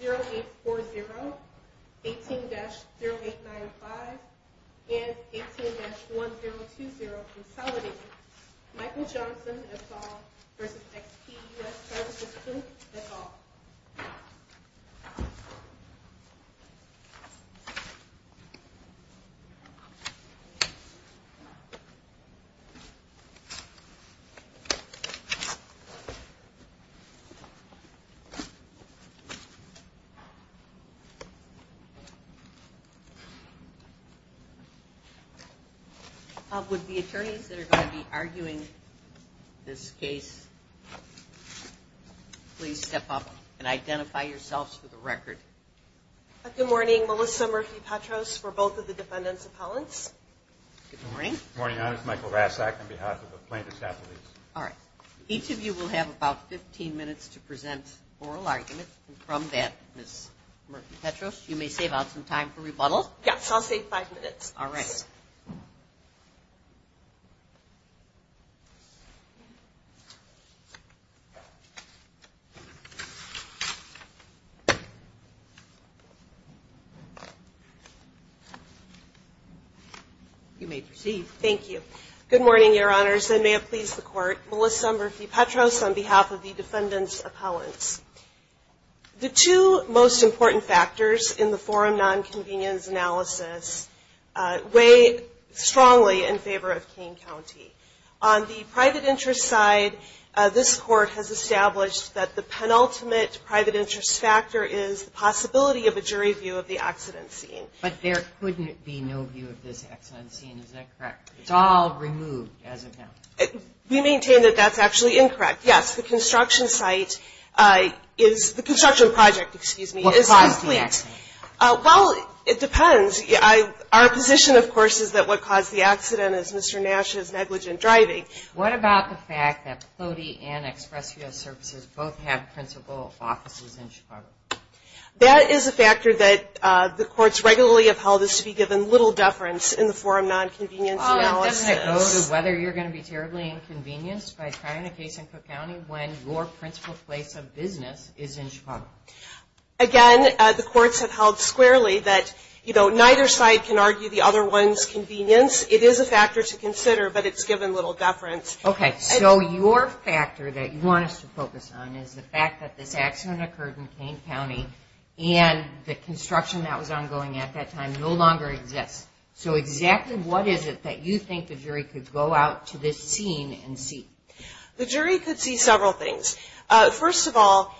18-0840, 18-0895, and 18-1020, consolidating, Michael Johnson, et al. v. Exp U.S. Services, Inc, et al. Would the attorneys that are going to be arguing this case please step up and identify yourselves for the record. Good morning. Melissa Murphy-Petros for both of the defendants' appellants. Good morning. Good morning. I'm Michael Rassak on behalf of the plaintiffs' affiliates. All right. Each of you will have about 15 minutes to present oral arguments, and from that, Ms. Murphy-Petros, you may save out some time for rebuttals. Yes, I'll save five minutes. All right. You may proceed. Thank you. Good morning, Your Honors, and may it please the Court, Melissa Murphy-Petros on behalf of the defendants' appellants. The two most important factors in the forum nonconvenience analysis weigh strongly in favor of Kane County. On the private interest side, this Court has established that the penultimate private interest factor is the possibility of a jury view of the accident scene. But there couldn't be no view of this accident scene, is that correct? It's all removed as of now. We maintain that that's actually incorrect. Yes, the construction site is the construction project, excuse me, is complete. What caused the accident? Well, it depends. Our position, of course, is that what caused the accident is Mr. Nash's negligent driving. What about the fact that Plody and Express Rail Services both have principal offices in Chicago? That is a factor that the courts regularly have held is to be given little deference in the forum nonconvenience analysis. Doesn't it go to whether you're going to be terribly inconvenienced by trying a case in Cook County when your principal place of business is in Chicago? Again, the courts have held squarely that, you know, neither side can argue the other one's convenience. It is a factor to consider, but it's given little deference. Okay, so your factor that you want us to focus on is the fact that this accident occurred in Kane County, and the construction that was ongoing at that time no longer exists. So exactly what is it that you think the jury could go out to this scene and see? The jury could see several things. First of all,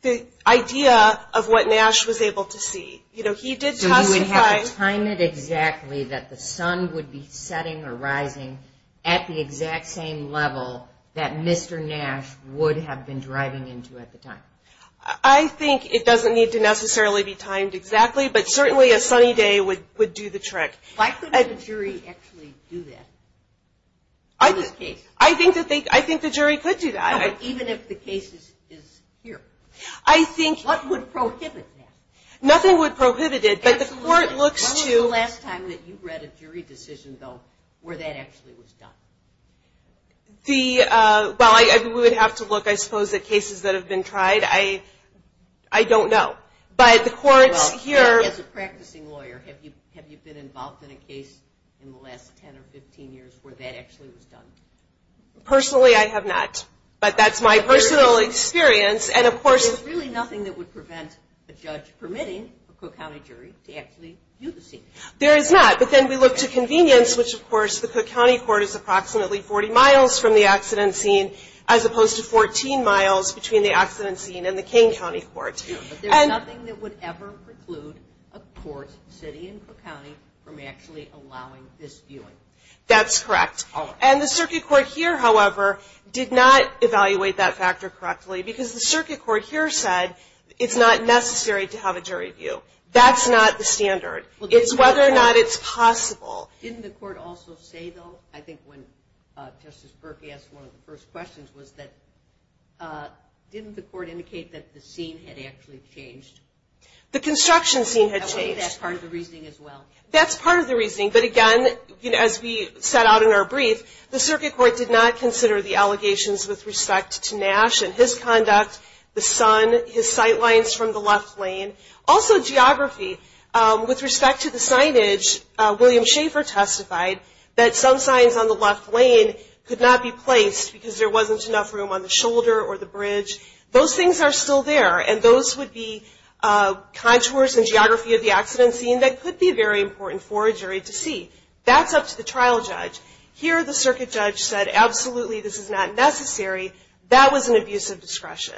the idea of what Nash was able to see. So you would have to time it exactly that the sun would be setting or rising at the exact same level that Mr. Nash would have been driving into at the time? I think it doesn't need to necessarily be timed exactly, but certainly a sunny day would do the trick. Why couldn't the jury actually do that in this case? I think the jury could do that. Even if the case is here? I think... What would prohibit that? Nothing would prohibit it, but the court looks to... When was the last time that you read a jury decision, though, where that actually was done? Well, we would have to look, I suppose, at cases that have been tried. I don't know, but the courts here... Well, as a practicing lawyer, have you been involved in a case in the last 10 or 15 years where that actually was done? Personally, I have not, but that's my personal experience, and of course... There is not a judge permitting a Cook County jury to actually view the scene. There is not, but then we look to convenience, which, of course, the Cook County court is approximately 40 miles from the accident scene, as opposed to 14 miles between the accident scene and the Kane County court. But there's nothing that would ever preclude a court sitting in Cook County from actually allowing this viewing. That's correct. And the circuit court here, however, did not evaluate that factor correctly, because the circuit court here said it's not necessary to have a jury view. That's not the standard. It's whether or not it's possible. Didn't the court also say, though, I think when Justice Berkey asked one of the first questions, was that didn't the court indicate that the scene had actually changed? The construction scene had changed. That's part of the reasoning as well? That's part of the reasoning, but again, as we set out in our brief, the circuit court did not consider the allegations with respect to Nash and his conduct, the sun, his sight lines from the left lane. Also, geography. With respect to the signage, William Schaefer testified that some signs on the left lane could not be placed because there wasn't enough room on the shoulder or the bridge. Those things are still there, and those would be contours and geography of the accident scene that could be very important for a jury to see. That's up to the trial judge. Here, the circuit judge said, absolutely, this is not necessary. That was an abuse of discretion.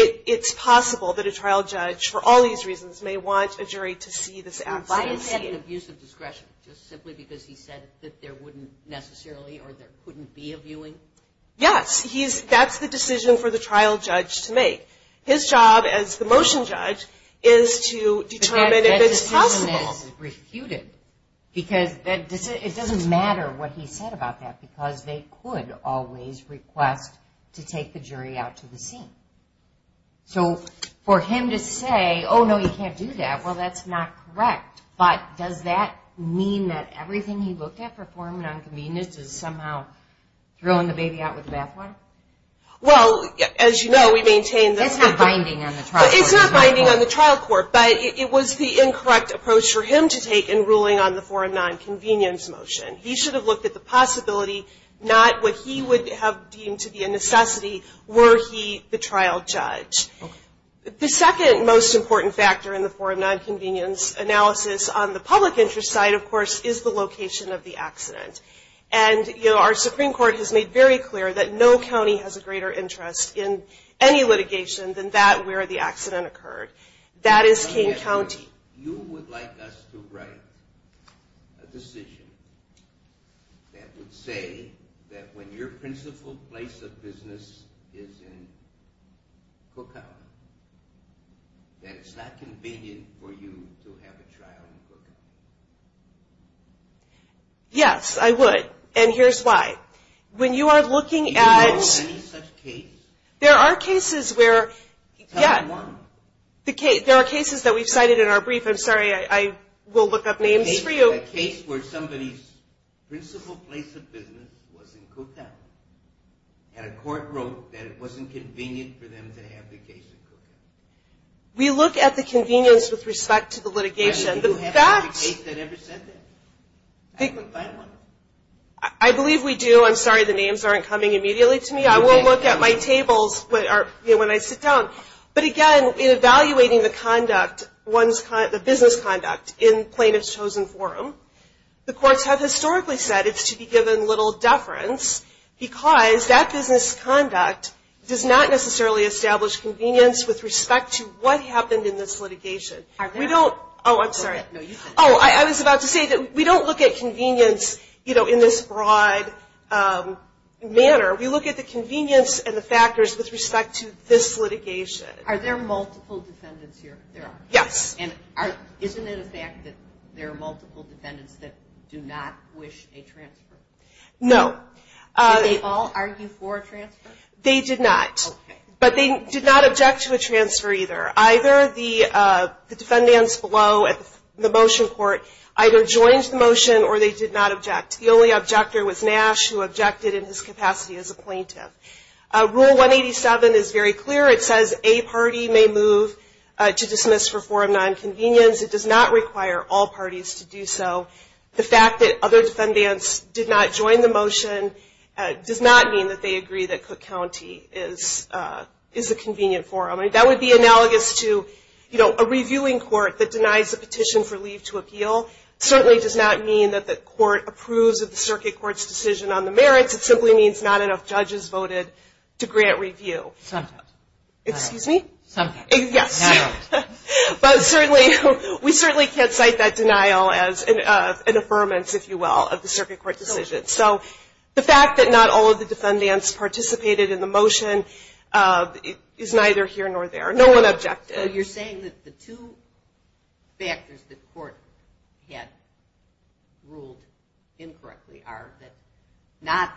It's possible that a trial judge, for all these reasons, may want a jury to see this accident scene. Why is that an abuse of discretion? Just simply because he said that there wouldn't necessarily or there couldn't be a viewing? Yes. That's the decision for the trial judge to make. His job as the motion judge is to determine if it's possible. That decision is refuted because it doesn't matter what he said about that because they could always request to take the jury out to the scene. So for him to say, oh, no, you can't do that, well, that's not correct. But does that mean that everything he looked at for form and unconvenience is somehow throwing the baby out with the bathwater? Well, as you know, we maintain that. It's not binding on the trial court. But it was the incorrect approach for him to take in ruling on the form and nonconvenience motion. He should have looked at the possibility, not what he would have deemed to be a necessity, were he the trial judge. The second most important factor in the form and nonconvenience analysis on the public interest side, of course, is the location of the accident. And our Supreme Court has made very clear that no county has a greater interest in any litigation than that where the accident occurred. That is King County. You would like us to write a decision that would say that when your principal place of business is in cookout, that it's not convenient for you to have a trial in cookout. Yes, I would. And here's why. When you are looking at... Do you know of any such case? There are cases where... Tell me one. There are cases that we've cited in our brief. I'm sorry. I will look up names for you. A case where somebody's principal place of business was in cookout, and a court wrote that it wasn't convenient for them to have the case in cookout. We look at the convenience with respect to the litigation. Do you happen to have a case that ever said that? I believe we do. I'm sorry. The names aren't coming immediately to me. I won't look at my tables when I sit down. But, again, in evaluating the business conduct in plaintiff's chosen forum, the courts have historically said it's to be given little deference because that business conduct does not necessarily establish convenience with respect to what happened in this litigation. Are there? Oh, I'm sorry. Oh, I was about to say that we don't look at convenience in this broad manner. We look at the convenience and the factors with respect to this litigation. Are there multiple defendants here? There are. Yes. And isn't it a fact that there are multiple defendants that do not wish a transfer? No. Did they all argue for a transfer? They did not. Okay. But they did not object to a transfer either. Either the defendants below at the motion court either joined the motion or they did not object. The only objector was Nash who objected in his capacity as a plaintiff. Rule 187 is very clear. It says a party may move to dismiss for forum nonconvenience. It does not require all parties to do so. The fact that other defendants did not join the motion does not mean that they agree that Cook County is a convenient forum. That would be analogous to a reviewing court that denies a petition for leave to appeal. It certainly does not mean that the court approves of the circuit court's decision on the merits. It simply means not enough judges voted to grant review. Sometimes. Excuse me? Sometimes. Yes. But we certainly can't cite that denial as an affirmance, if you will, of the circuit court decision. So the fact that not all of the defendants participated in the motion is neither here nor there. No one objected. So you're saying that the two factors that the court had ruled incorrectly are not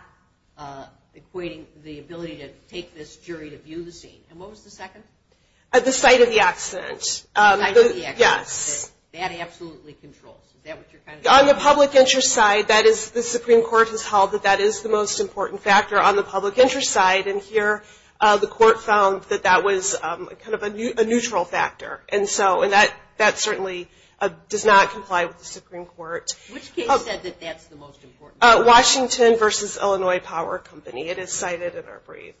equating the ability to take this jury to view the scene. And what was the second? The sight of the accident. The sight of the accident. Yes. That absolutely controls. Is that what you're trying to say? On the public interest side, that is the Supreme Court has held that that is the most important factor on the public interest side. And here, the court found that that was kind of a neutral factor. And that certainly does not comply with the Supreme Court. Which case said that that's the most important factor? Washington v. Illinois Power Company. It is cited in our brief.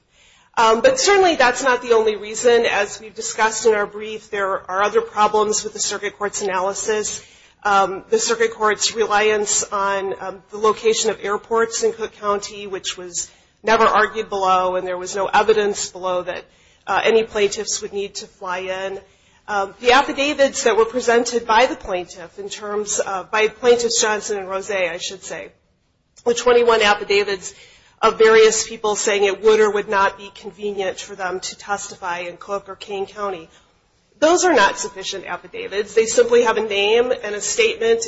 But certainly that's not the only reason. As we discussed in our brief, there are other problems with the circuit court's analysis. The circuit court's reliance on the location of airports in Cook County, which was never argued below. And there was no evidence below that any plaintiffs would need to fly in. The affidavits that were presented by the plaintiff, by Plaintiffs Johnson and Rose, I should say. The 21 affidavits of various people saying it would or would not be convenient for them to testify in Cook or Kane County. Those are not sufficient affidavits. They simply have a name and a statement.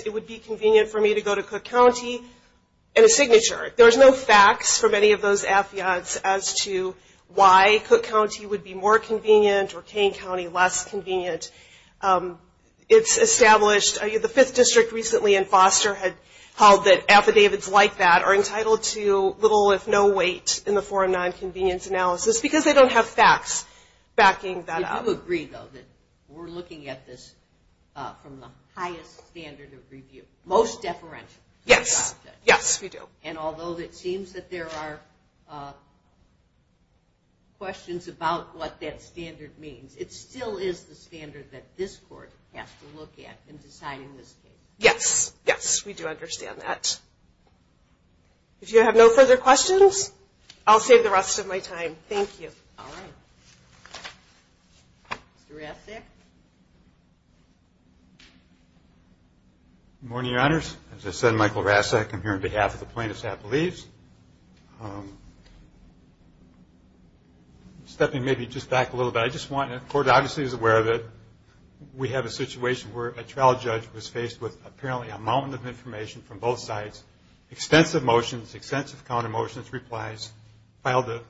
And a signature. There's no facts from any of those affidavits as to why Cook County would be more convenient or Kane County less convenient. It's established. The 5th District recently in Foster had held that affidavits like that are entitled to little if no weight in the foreign nonconvenience analysis because they don't have facts backing that up. Do you agree, though, that we're looking at this from the highest standard of review? Most deferential. Yes. Yes, we do. And although it seems that there are questions about what that standard means, it still is the standard that this Court has to look at in deciding this case. Yes. Yes, we do understand that. If you have no further questions, I'll save the rest of my time. Thank you. All right. Mr. Rasek. Good morning, Your Honors. As I said, Michael Rasek. I'm here on behalf of the plaintiff's half of the leaves. Stepping maybe just back a little bit, I just want to, the Court obviously is aware of it. We have a situation where a trial judge was faced with apparently a mountain of information from both sides, extensive motions, extensive counter motions, replies, filed the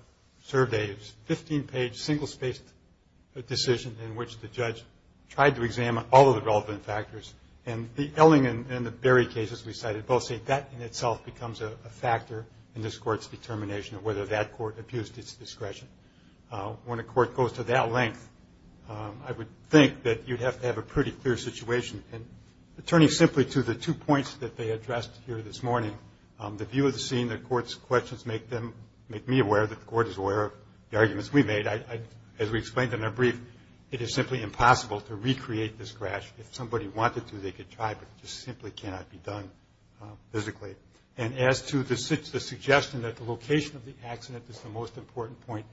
surveys, 15-page single-spaced decision in which the judge tried to examine all of the relevant factors, and the Elling and the Berry cases we cited both say that in itself becomes a factor in this Court's determination of whether that Court abused its discretion. When a Court goes to that length, I would think that you'd have to have a pretty clear situation. And turning simply to the two points that they addressed here this morning, the view of the scene, the Court's questions make me aware that the Court is aware of the arguments we made. As we explained in our brief, it is simply impossible to recreate this crash. If somebody wanted to, they could try, but it just simply cannot be done physically. And as to the suggestion that the location of the accident is the most important point,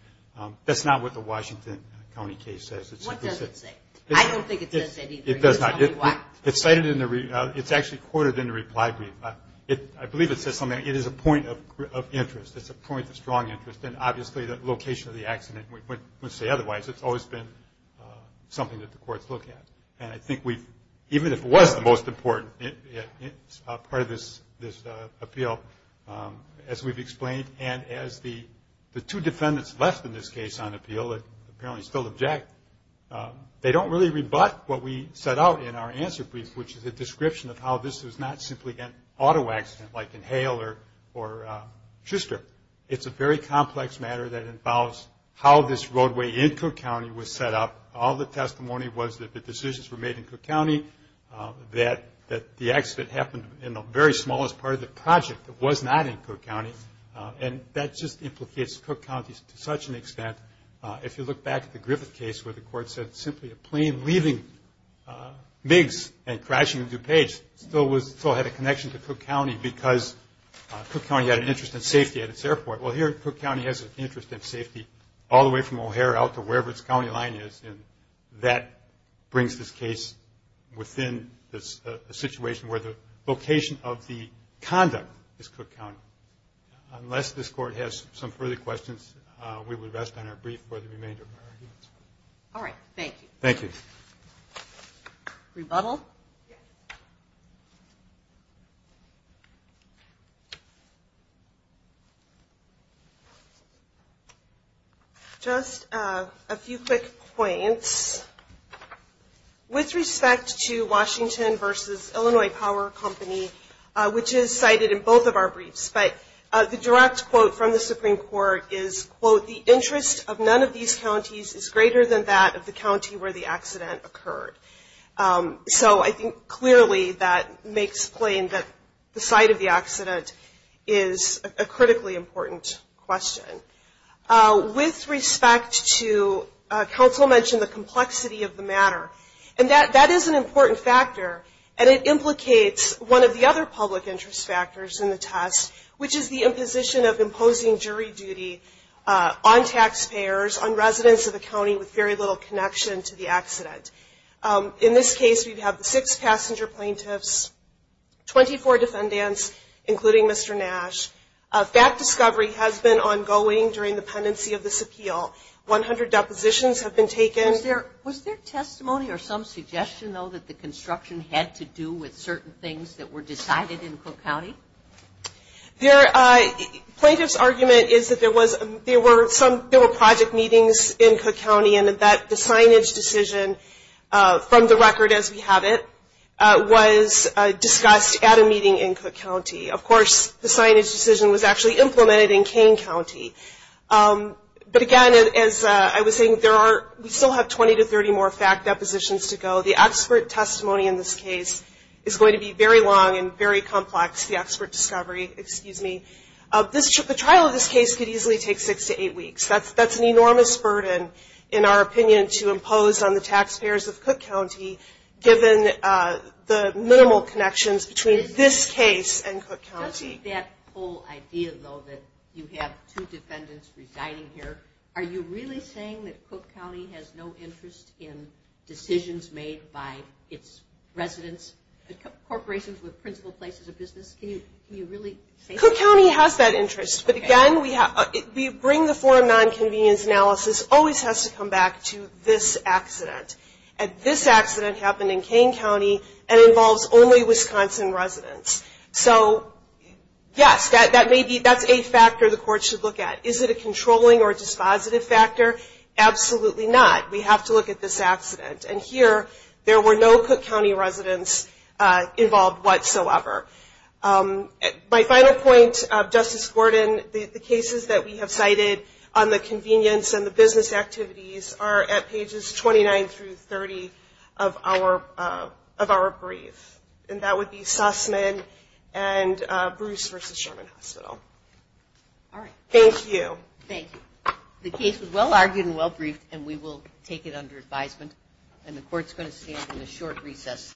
that's not what the Washington County case says. What does it say? I don't think it says that either. It does not. Tell me why. It's actually quoted in the reply brief. I believe it says something like, it is a point of interest. It's a point of strong interest, and obviously the location of the accident, I wouldn't say otherwise, it's always been something that the Court's looked at. And I think we've, even if it was the most important part of this appeal, as we've explained, and as the two defendants left in this case on appeal that apparently still object, they don't really rebut what we set out in our answer brief, which is a description of how this was not simply an auto accident like in Hale or Schuster. It's a very complex matter that involves how this roadway in Cook County was set up. All the testimony was that the decisions were made in Cook County, that the accident happened in the very smallest part of the project that was not in Cook County, and that just implicates Cook County to such an extent. If you look back at the Griffith case where the Court said simply a plane leaving Miggs and crashing into DuPage still had a connection to Cook County because Cook County had an interest in safety at its airport. Well, here Cook County has an interest in safety all the way from O'Hare out to wherever its county line is, and that brings this case within a situation where the location of the conduct is Cook County. Unless this Court has some further questions, we will rest on our brief for the remainder of our arguments. All right, thank you. Thank you. Rebuttal? Rebuttal? Just a few quick points. With respect to Washington v. Illinois Power Company, which is cited in both of our briefs, but the direct quote from the Supreme Court is, quote, that makes plain that the site of the accident is a critically important question. With respect to, counsel mentioned the complexity of the matter, and that is an important factor, and it implicates one of the other public interest factors in the test, which is the imposition of imposing jury duty on taxpayers, on residents of the county with very little connection to the accident. In this case, we have six passenger plaintiffs, 24 defendants, including Mr. Nash. Fact discovery has been ongoing during the pendency of this appeal. One hundred depositions have been taken. Was there testimony or some suggestion, though, that the construction had to do with certain things that were decided in Cook County? Plaintiff's argument is that there were project meetings in Cook County, and that the signage decision from the record as we have it was discussed at a meeting in Cook County. Of course, the signage decision was actually implemented in Kane County. But again, as I was saying, we still have 20 to 30 more fact depositions to go. The expert testimony in this case is going to be very long and very complex, the expert discovery, excuse me. The trial of this case could easily take six to eight weeks. That's an enormous burden, in our opinion, to impose on the taxpayers of Cook County, given the minimal connections between this case and Cook County. Doesn't that whole idea, though, that you have two defendants residing here, are you really saying that Cook County has no interest in decisions made by its residents? Corporations with principal places of business, can you really say that? Cook County has that interest, but again, we bring the foreign nonconvenience analysis, always has to come back to this accident. And this accident happened in Kane County, and involves only Wisconsin residents. So, yes, that's a factor the court should look at. Is it a controlling or dispositive factor? Absolutely not. We have to look at this accident. And here, there were no Cook County residents involved whatsoever. My final point, Justice Gordon, the cases that we have cited on the convenience and the business activities are at pages 29 through 30 of our brief. And that would be Sussman and Bruce v. Sherman Hospital. All right. Thank you. Thank you. The case was well-argued and well-briefed, and we will take it under advisement. And the court's going to stand in a short recess.